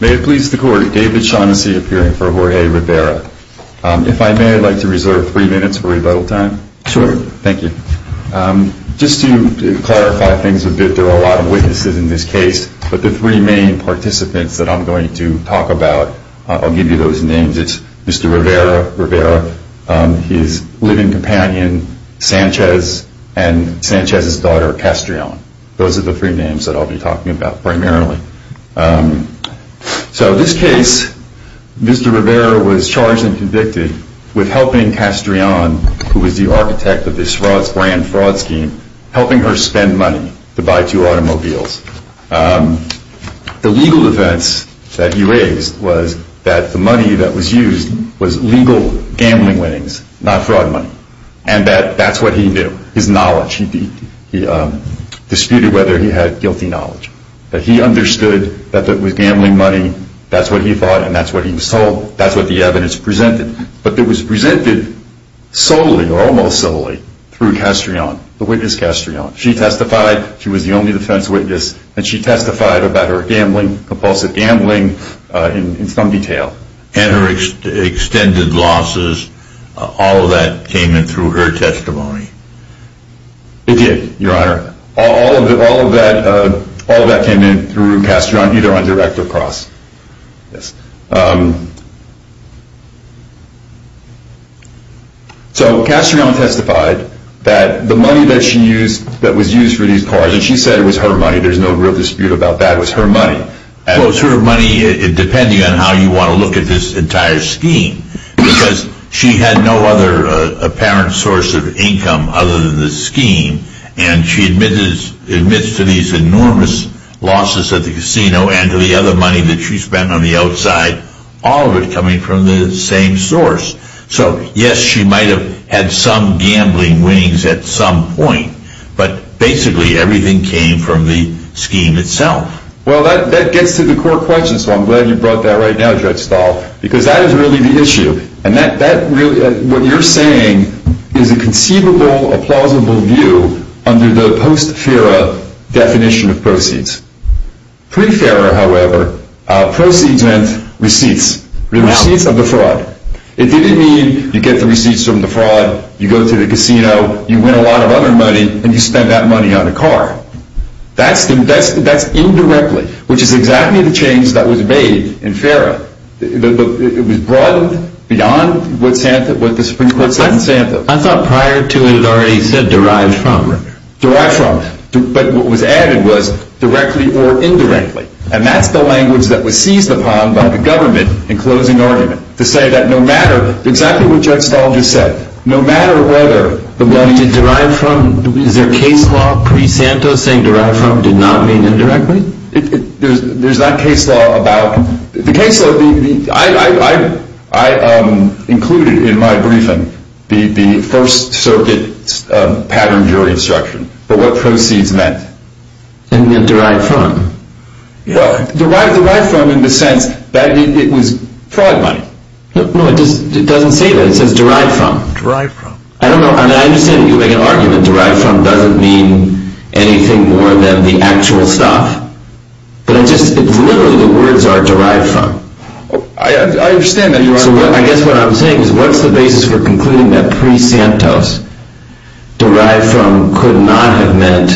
May it please the court, David Shaughnessy appearing for Jorge Rivera. If I may, I'd like to reserve three minutes for rebuttal time. Sure. Thank you. Just to clarify things a bit, there are a lot of witnesses in this case, but the three main participants that I'm going to talk about, I'll give you those names. It's Mr. Rivera, Rivera, his living companion, Sanchez, and Sanchez's daughter, Castreon. Those are the three names that I'll be talking about primarily. So this case, Mr. Rivera was charged and convicted with helping Castreon, who was the architect of this brand fraud scheme, helping her spend money to buy two automobiles. The legal defense that he raised was that the money that was used was legal gambling winnings, not fraud money. And that's what he knew, his knowledge. He disputed whether he had guilty knowledge. But he understood that it was gambling money, that's what he thought, and that's what he was told. That's what the evidence presented. But it was presented solely, or almost solely, through Castreon, the witness Castreon. She testified, she was the only defense witness, and she testified about her gambling, compulsive gambling, in some detail. And her extended losses, all of that came in through her testimony. It did, your honor. All of that came in through Castreon, either on direct or cross. So Castreon testified that the money that she used, that was used for these cars, and she said it was her money, there's no real dispute about that, it was her money. Well, it was her money, depending on how you want to look at this entire scheme. Because she had no other apparent source of income other than the scheme, and she admits to these enormous losses at the casino, and to the other money that she spent on the outside, all of it coming from the same source. So yes, she might have had some gambling winnings at some point, but basically everything came from the scheme itself. Well, that gets to the core question, so I'm glad you brought that right now, Judge Stahl, because that is really the issue. And that really, what you're saying is a conceivable, a plausible view under the post-FERA definition of proceeds. Pre-FERA, however, proceeds meant receipts, receipts of the fraud. It didn't mean you get the receipts from the fraud, you go to the casino, you win a lot of other money, and you spend that money on a car. That's indirectly, which is exactly the change that was made in FERA. It was broadened beyond what the Supreme Court said in Santos. I thought prior to it, it already said derived from. Derived from. But what was added was directly or indirectly. And that's the language that was seized upon by the government in closing argument, to say that no matter, exactly what Judge Stahl just said, no matter whether... Did derived from, is there case law pre-Santos saying derived from did not mean indirectly? There's not case law about, the case law, I included in my briefing the First Circuit pattern jury instruction, but what proceeds meant. It meant derived from. Derived from in the sense that it was fraud money. No, it doesn't say that, it says derived from. Derived from. I don't know, I understand that you make an argument derived from doesn't mean anything more than the actual stuff. But it's literally the words are derived from. I understand that, Your Honor. So I guess what I'm saying is, what's the basis for concluding that pre-Santos, derived from could not have meant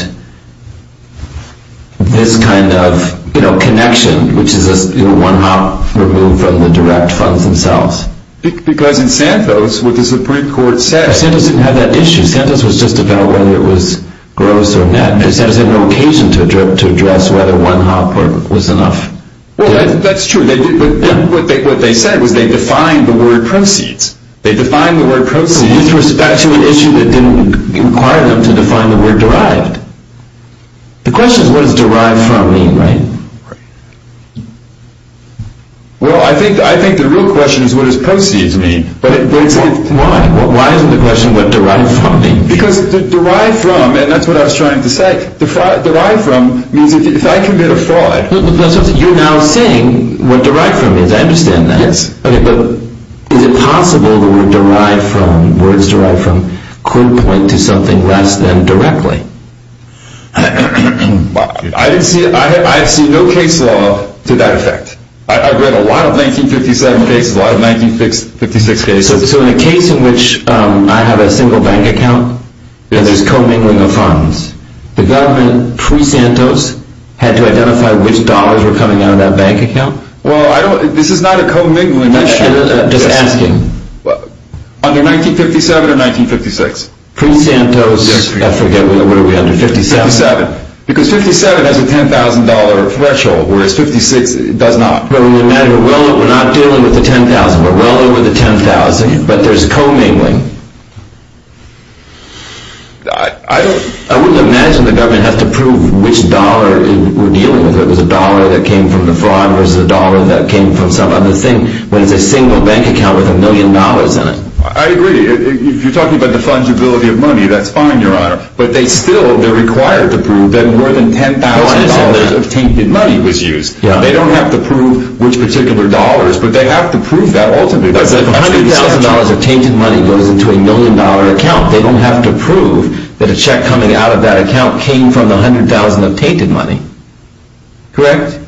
this kind of connection, which is a one hop remove from the direct funds themselves. Because in Santos, what the Supreme Court said... Santos didn't have that issue. Santos was just about whether it was gross or net. They said it was an occasion to address whether one hop was enough. Well, that's true. What they said was they defined the word proceeds. They defined the word proceeds... With respect to an issue that didn't require them to define the word derived. The question is what does derived from mean, right? Well, I think the real question is what does proceeds mean. Why? Why isn't the question what derived from means? Because derived from, and that's what I was trying to say, derived from means if I commit a fraud... You're now saying what derived from means. I understand that. Yes. But is it possible the word derived from, words derived from, could point to something less than directly? I've seen no case law to that effect. I've read a lot of 1957 cases, a lot of 1956 cases. So in a case in which I have a single bank account and there's commingling of funds, the government pre-Santos had to identify which dollars were coming out of that bank account? Well, this is not a commingling issue. Just asking. Under 1957 or 1956. Pre-Santos, I forget, what are we under, 1957? 1957. Because 1957 has a $10,000 threshold, whereas 1956 does not. Well, we're not dealing with the $10,000, but rather with the $10,000, but there's commingling. I wouldn't imagine the government has to prove which dollar we're dealing with, if it was a dollar that came from the fraud versus a dollar that came from some other thing, when it's a single bank account with a million dollars in it. I agree. If you're talking about the fungibility of money, that's fine, Your Honor. But they still, they're required to prove that more than $10,000 of tainted money was used. They don't have to prove which particular dollars, but they have to prove that ultimately. $100,000 of tainted money goes into a million dollar account. They don't have to prove that a check coming out of that account came from the $100,000 of tainted money. Correct?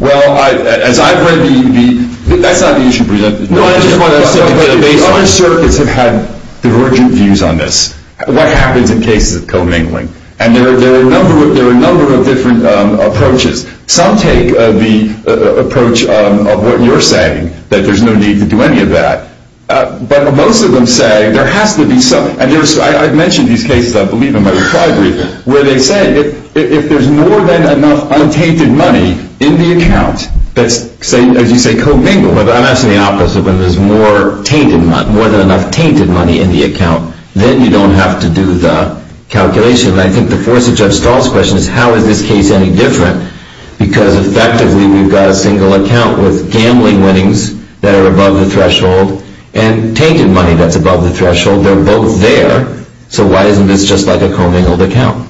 Well, as I've read the, that's not the issue presented. No, I just want to say that the other circuits have had divergent views on this. What happens in cases of commingling? And there are a number of different approaches. Some take the approach of what you're saying, that there's no need to do any of that. But most of them say there has to be some, and I've mentioned these cases, I believe, in my reply brief, where they say if there's more than enough untainted money in the account that's, as you say, commingled. But I'm asking the opposite. When there's more than enough tainted money in the account, then you don't have to do the calculation. And I think the force of Judge Stahl's question is how is this case any different? Because effectively, we've got a single account with gambling winnings that are above the threshold and tainted money that's above the threshold. They're both there. So why isn't this just like a commingled account?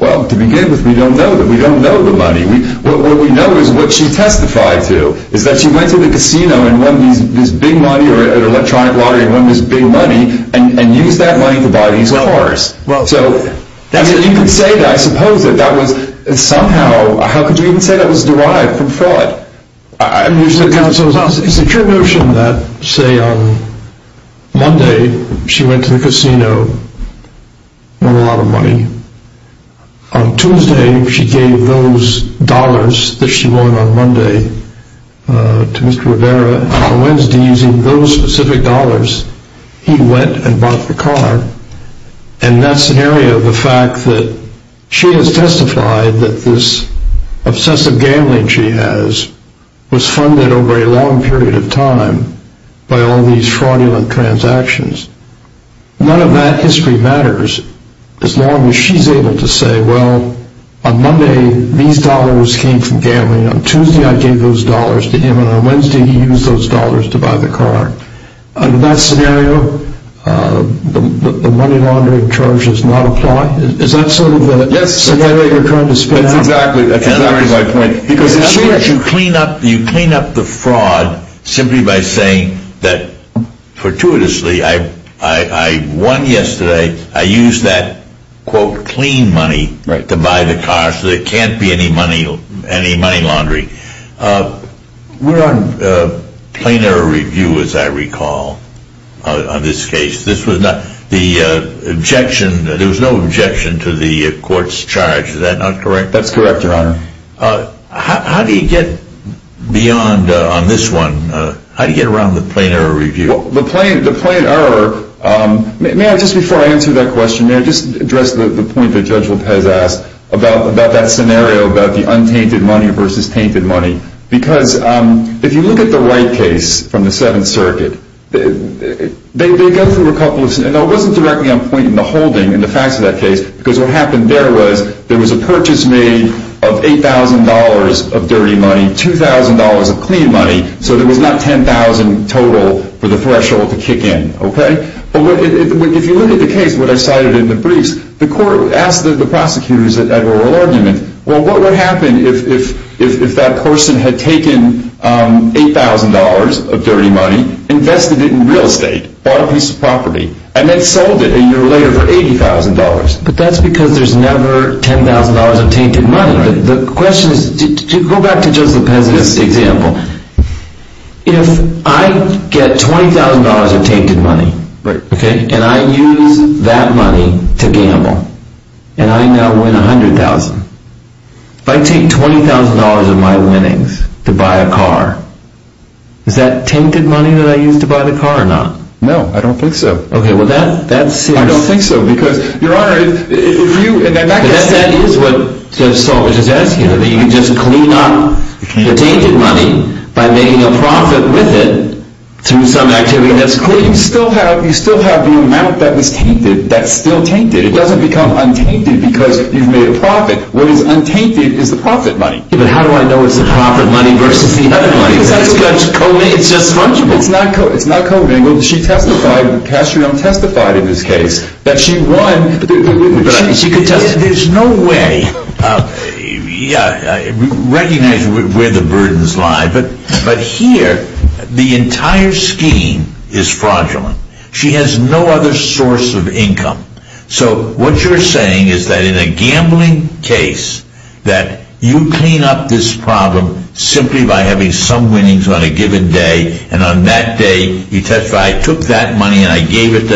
Well, to begin with, we don't know the money. What we know is what she testified to, is that she went to the casino and won this big money, or an electronic lottery and won this big money, and used that money to buy these cars. So you could say that, I suppose, that that was somehow, how could you even say that was derived from fraud? It's a true notion that, say, on Monday, she went to the casino, won a lot of money. On Tuesday, she gave those dollars that she won on Monday to Mr. Rivera. On Wednesday, using those specific dollars, he went and bought the car. In that scenario, the fact that she has testified that this obsessive gambling she has was funded over a long period of time by all these fraudulent transactions, none of that history matters as long as she's able to say, well, on Monday, these dollars came from gambling. On Tuesday, I gave those dollars to him, and on Wednesday, he used those dollars to buy the car. In that scenario, the money laundering charge does not apply? Is that sort of the scenario you're trying to spin out? Yes, that's exactly my point. You clean up the fraud simply by saying that, fortuitously, I won yesterday, I used that, quote, clean money to buy the car, so there can't be any money laundering. We're on plain error review, as I recall, on this case. There was no objection to the court's charge, is that not correct? That's correct, Your Honor. How do you get beyond on this one, how do you get around the plain error review? The plain error, may I just before I answer that question, may I just address the point that Judge Lopez asked about that scenario, about the untainted money versus tainted money? Because if you look at the Wright case from the Seventh Circuit, they go through a couple of scenarios. It wasn't directly on point in the holding, in the facts of that case, because what happened there was there was a purchase made of $8,000 of dirty money, $2,000 of clean money, so there was not $10,000 total for the threshold to kick in, okay? But if you look at the case, what I cited in the briefs, the court asked the prosecutors at oral argument, well, what would happen if that person had taken $8,000 of dirty money, invested it in real estate, bought a piece of property, and then sold it a year later for $80,000? But that's because there's never $10,000 of tainted money. The question is, to go back to Judge Lopez's example, if I get $20,000 of tainted money, and I use that money to gamble, and I now win $100,000, if I take $20,000 of my winnings to buy a car, is that tainted money that I use to buy the car or not? No, I don't think so. Okay, well, that's serious. I don't think so, because, Your Honor, if you... I guess that is what Judge Salvage is asking, that you can just clean up the tainted money by making a profit with it through some activity that's clean. But you still have the amount that was tainted that's still tainted. It doesn't become untainted because you've made a profit. What is untainted is the profit money. But how do I know it's the profit money versus the other money? Because that's what Judge Covino... It's not Covino. She testified, and Kastriam testified in this case, that she won... There's no way... Recognize where the burdens lie, but here, the entire scheme is fraudulent. She has no other source of income. So what you're saying is that in a gambling case, that you clean up this problem simply by having some winnings on a given day, and on that day, you testify, I took that money and I gave it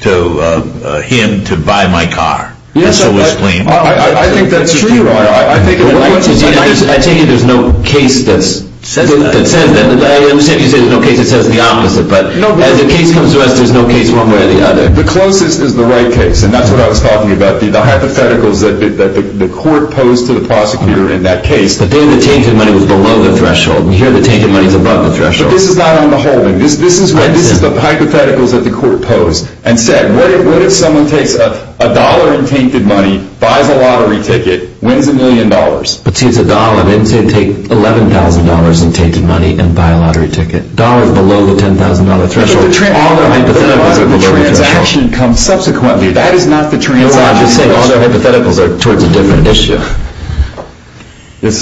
to him to buy my car. Yes, I think that's true. I take it there's no case that says that. I understand you say there's no case that says the opposite, but as the case comes to us, there's no case one way or the other. The closest is the right case, and that's what I was talking about, the hypotheticals that the court posed to the prosecutor in that case. The tainted money was below the threshold, and here the tainted money is above the threshold. But this is not on the holding. This is the hypotheticals that the court posed and said, what if someone takes a dollar in tainted money, buys a lottery ticket, wins a million dollars? But see, it's a dollar. They didn't say take $11,000 in tainted money and buy a lottery ticket. Dollars below the $10,000 threshold. All their hypotheticals are below the threshold. The transaction comes subsequently. That is not the transaction.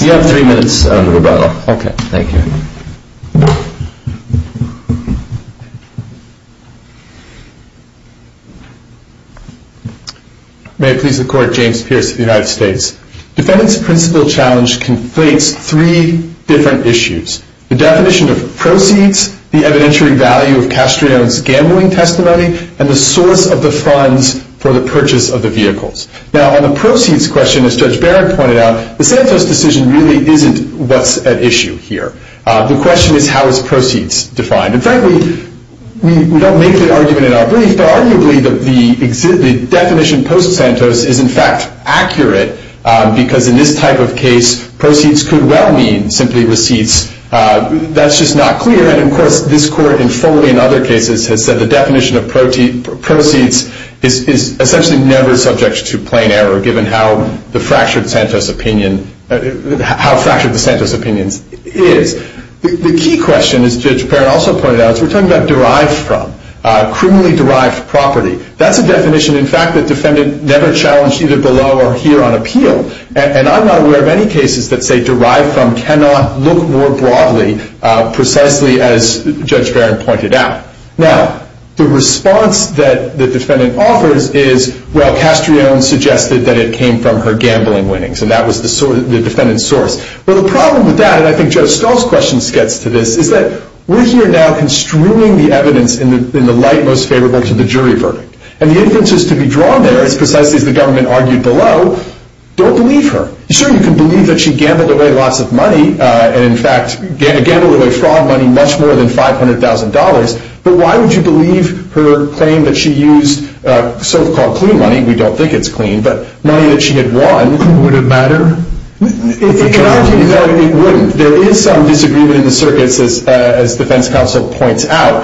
You have three minutes on the rebuttal. Okay, thank you. May it please the Court, James Pierce of the United States. Defendant's principal challenge conflates three different issues. The definition of proceeds, the evidentiary value of Castrillon's gambling testimony, and the source of the funds for the purchase of the vehicles. Now, on the proceeds question, as Judge Barron pointed out, the Santos decision really isn't what's at issue here. The question is, how is proceeds defined? And frankly, we don't make the argument in our brief, but arguably the definition post-Santos is in fact accurate because in this type of case, proceeds could well mean simply receipts. That's just not clear. And, of course, this Court, and fully in other cases, has said the definition of proceeds is essentially never subject to plain error given how fractured the Santos opinion is. The key question, as Judge Barron also pointed out, is we're talking about derived from, criminally derived property. That's a definition, in fact, that defendant never challenged either below or here on appeal. And I'm not aware of any cases that say derived from cannot look more broadly, precisely as Judge Barron pointed out. Now, the response that the defendant offers is, well, Castrione suggested that it came from her gambling winnings, and that was the defendant's source. Well, the problem with that, and I think Judge Stahl's question gets to this, is that we're here now construing the evidence in the light most favorable to the jury verdict. And the inferences to be drawn there, as precisely as the government argued below, don't believe her. You certainly can believe that she gambled away lots of money, and in fact gambled away fraud money much more than $500,000, but why would you believe her claim that she used so-called clue money? We don't think it's clue, but money that she had won. Would it matter? It wouldn't. There is some disagreement in the circuits, as defense counsel points out,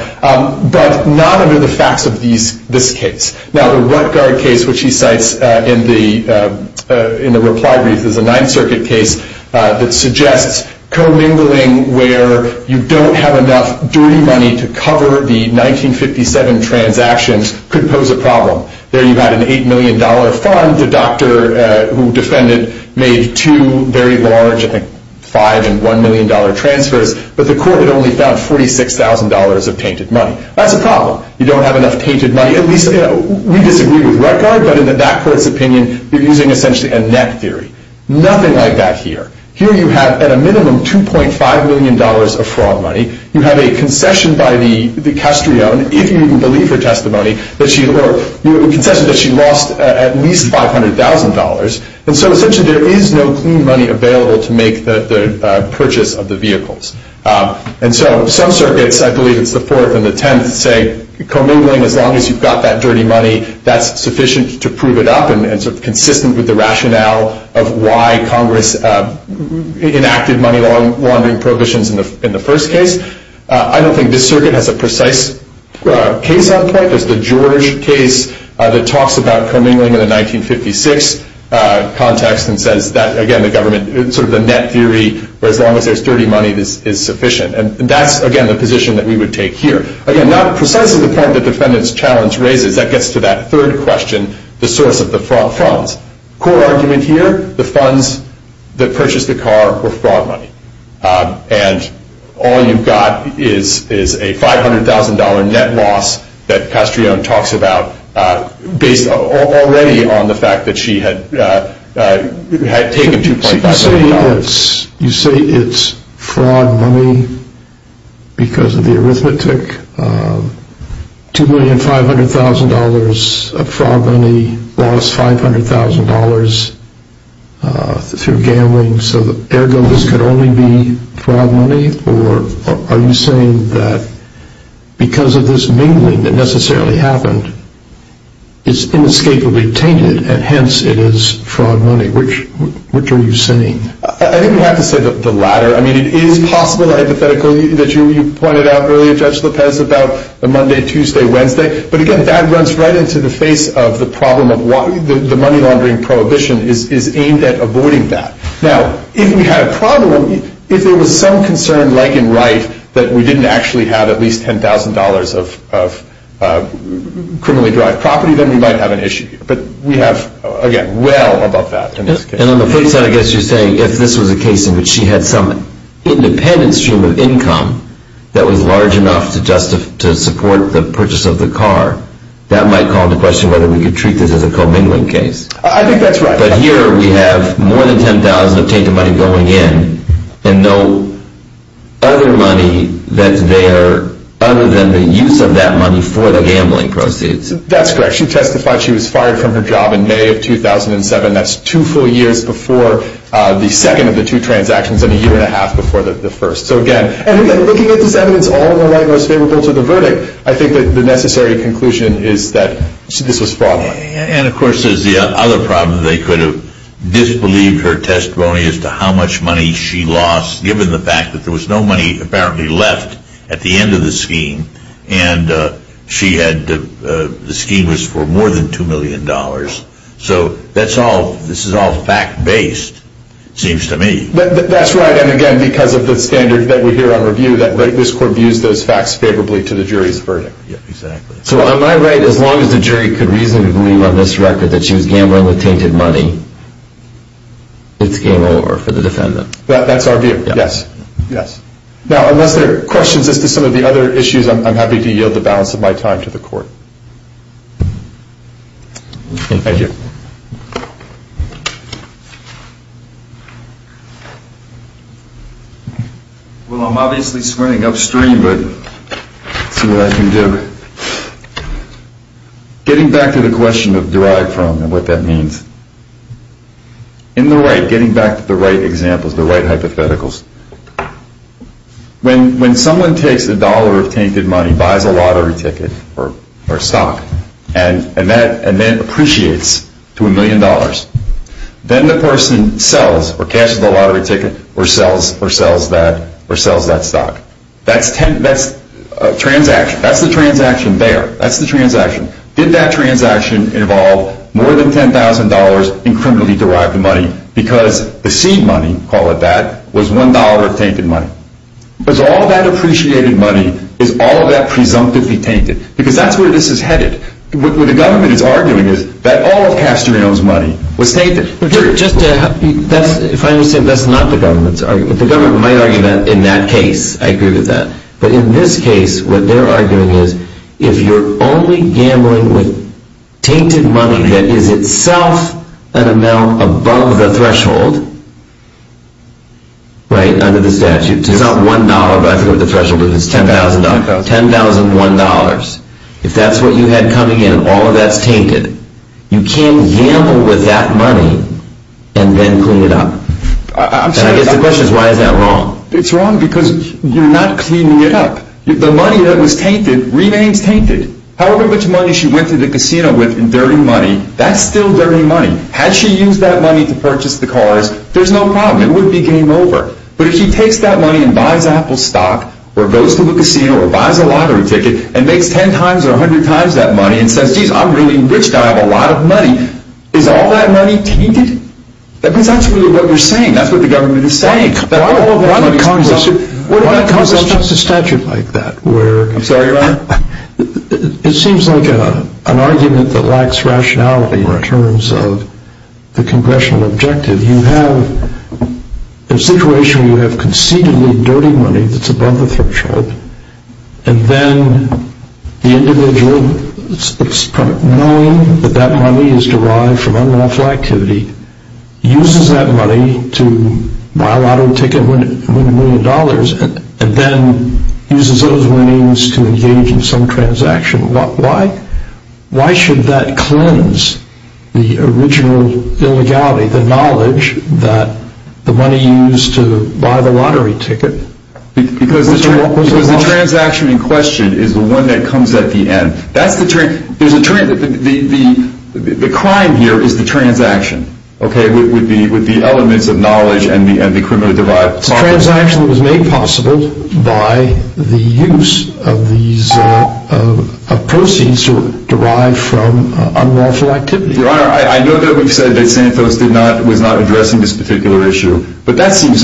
but none under the facts of this case. Now, the Rutgard case, which he cites in the reply brief, is a Ninth Circuit case that suggests commingling where you don't have enough dirty money to cover the 1957 transactions could pose a problem. There you had an $8 million fund. The doctor who defended made two very large, I think $5 and $1 million transfers, but the court had only found $46,000 of tainted money. That's a problem. You don't have enough tainted money. At least we disagree with Rutgard, but in that court's opinion you're using essentially a net theory. Nothing like that here. Here you have at a minimum $2.5 million of fraud money. You have a concession by the Castrillon, if you even believe her testimony, a concession that she lost at least $500,000. And so essentially there is no clue money available to make the purchase of the vehicles. And so some circuits, I believe it's the Fourth and the Tenth, say commingling as long as you've got that dirty money, that's sufficient to prove it up and consistent with the rationale of why Congress enacted money laundering prohibitions in the first case. I don't think this circuit has a precise case on point. There's the George case that talks about commingling in the 1956 context and says that, again, the government, sort of the net theory, where as long as there's dirty money, this is sufficient. And that's, again, the position that we would take here. Again, not precisely the point that the defendant's challenge raises. That gets to that third question, the source of the fraud funds. Core argument here, the funds that purchased the car were fraud money. And all you've got is a $500,000 net loss that Castrillon talks about based already on the fact that she had taken $2.5 million. You say it's fraud money because of the arithmetic. $2,500,000 of fraud money lost $500,000 through gambling. So, ergo, this could only be fraud money? Or are you saying that because of this mingling that necessarily happened, it's inescapably tainted and hence it is fraud money? Which are you saying? I think we have to say the latter. I mean, it is possible, hypothetically, that you pointed out earlier, Judge Lopez, about the Monday, Tuesday, Wednesday. But, again, that runs right into the face of the problem of the money laundering prohibition is aimed at avoiding that. Now, if we had a problem, if there was some concern, like in Wright, that we didn't actually have at least $10,000 of criminally-derived property, then we might have an issue here. But we have, again, well above that in this case. And on the flip side, I guess you're saying if this was a case in which she had some independent stream of income that was large enough to support the purchase of the car, that might call into question whether we could treat this as a commingling case. I think that's right. But here we have more than $10,000 of tainted money going in and no other money that's there other than the use of that money for the gambling proceeds. That's correct. She testified she was fired from her job in May of 2007. That's two full years before the second of the two transactions and a year and a half before the first. So, again, looking at this evidence, all in the light most favorable to the verdict, I think that the necessary conclusion is that this was fraud. And, of course, there's the other problem. They could have disbelieved her testimony as to how much money she lost given the fact that there was no money apparently left at the end of the scheme. And she had the scheme was for more than $2 million. So this is all fact-based, it seems to me. That's right. And, again, because of the standard that we hear on review, this court views those facts favorably to the jury's verdict. Exactly. So am I right as long as the jury could reasonably believe on this record that she was gambling with tainted money, it's game over for the defendant? That's our view, yes. Now, unless there are questions as to some of the other issues, I'm happy to yield the balance of my time to the court. Thank you. Well, I'm obviously sprinting upstream, but let's see what I can do. Getting back to the question of derived from and what that means, in the right, getting back to the right examples, the right hypotheticals, when someone takes a dollar of tainted money, buys a lottery ticket or stock, and then appreciates to a million dollars, then the person sells or catches the lottery ticket or sells that stock. That's the transaction there. That's the transaction. Did that transaction involve more than $10,000 in criminally derived money? Because the seed money, call it that, was $1 of tainted money. Because all of that appreciated money is all of that presumptively tainted. Because that's where this is headed. What the government is arguing is that all of Castoreo's money was tainted. If I understand, that's not the government's argument. The government might argue that in that case. I agree with that. But in this case, what they're arguing is if you're only gambling with tainted money that is itself an amount above the threshold, right, under the statute. It's not $1, but I forget what the threshold is. It's $10,000. $10,001. If that's what you had coming in and all of that's tainted, you can't gamble with that money and then clean it up. And I guess the question is why is that wrong? It's wrong because you're not cleaning it up. The money that was tainted remains tainted. However much money she went to the casino with in dirty money, that's still dirty money. Had she used that money to purchase the cars, there's no problem. It would be game over. But if she takes that money and buys Apple stock or goes to the casino or buys a lottery ticket and makes 10 times or 100 times that money and says, geez, I'm really rich now. I have a lot of money, is all that money tainted? Because that's really what we're saying. That's what the government is saying. Why would Congress adopt a statute like that where It seems like an argument that lacks rationality in terms of the congressional objective. You have a situation where you have conceitedly dirty money that's above the threshold and then the individual, knowing that that money is derived from unlawful activity, uses that money to buy a lottery ticket and win a million dollars and then uses those winnings to engage in some transaction. Why should that cleanse the original illegality, the knowledge that the money used to buy the lottery ticket? Because the transaction in question is the one that comes at the end. The crime here is the transaction, okay, with the elements of knowledge and the criminal divide. The transaction was made possible by the use of proceeds derived from unlawful activity. Your Honor, I know that we've said that Santos was not addressing this particular issue, but that seems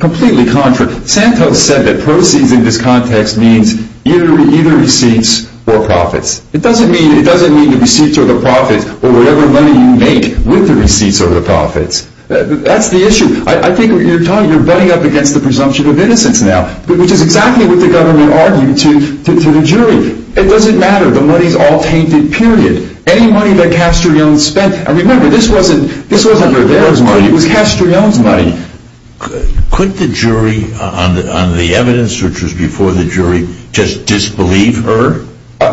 completely contrary. Santos said that proceeds in this context means either receipts or profits. It doesn't mean the receipts or the profits or whatever money you make with the receipts or the profits. That's the issue. I think you're butting up against the presumption of innocence now, which is exactly what the government argued to the jury. It doesn't matter. The money's all tainted, period. Any money that Castrillon spent, and remember, this wasn't her dad's money. It was Castrillon's money. Could the jury on the evidence, which was before the jury, just disbelieve her?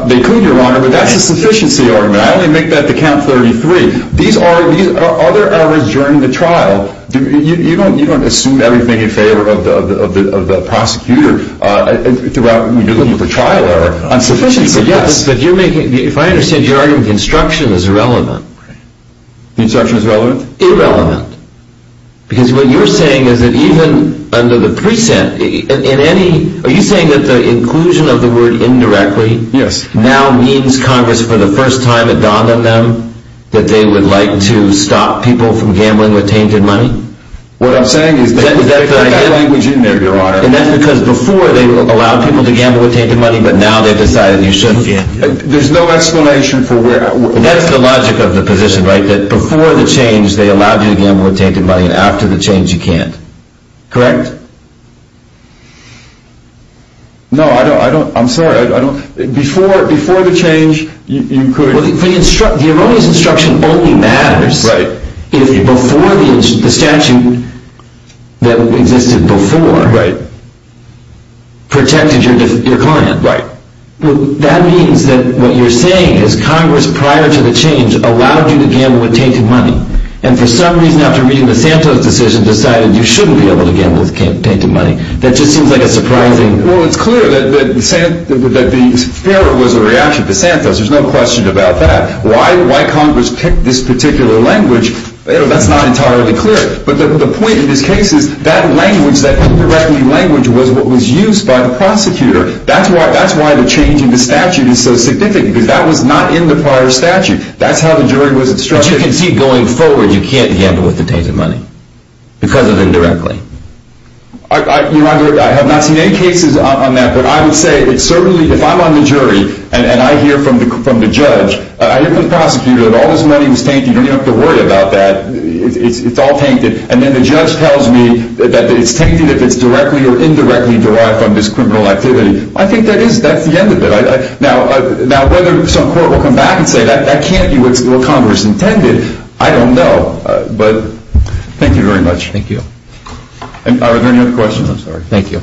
They could, Your Honor, but that's a sufficiency argument. I only make that to count 33. These are other errors during the trial. You don't assume everything in favor of the prosecutor when you're looking at the trial error. If I understand your argument, construction is irrelevant. Construction is relevant? Irrelevant. Because what you're saying is that even under the precinct, are you saying that the inclusion of the word indirectly now means Congress, for the first time it dawned on them that they would like to stop people from gambling with tainted money? What I'm saying is that they've got language in there, Your Honor. And that's because before they allowed people to gamble with tainted money, but now they've decided you shouldn't gamble. There's no explanation for where I'm— And that's the logic of the position, right? That before the change, they allowed you to gamble with tainted money, and after the change, you can't. Correct? No, I don't—I'm sorry. Before the change, you could— Well, the erroneous instruction only matters if before the statute that existed before protected your client. Right. Well, that means that what you're saying is Congress, prior to the change, allowed you to gamble with tainted money, and for some reason, after reading the Santos decision, decided you shouldn't be able to gamble with tainted money. That just seems like a surprising— Well, it's clear that the FARA was a reaction to Santos. There's no question about that. Why Congress picked this particular language, that's not entirely clear. But the point of this case is that language, that indirectly language, was what was used by the prosecutor. That's why the change in the statute is so significant, because that was not in the prior statute. That's how the jury was instructed. But you can see going forward, you can't gamble with tainted money because of indirectly. I have not seen any cases on that, but I would say it's certainly—if I'm on the jury, and I hear from the judge, I hear from the prosecutor that all this money was tainted. You don't even have to worry about that. It's all tainted. And then the judge tells me that it's tainted if it's directly or indirectly derived from this criminal activity. I think that is—that's the end of it. Now, whether some court will come back and say that can't be what Congress intended, I don't know. But thank you very much. Thank you. Are there any other questions? Thank you.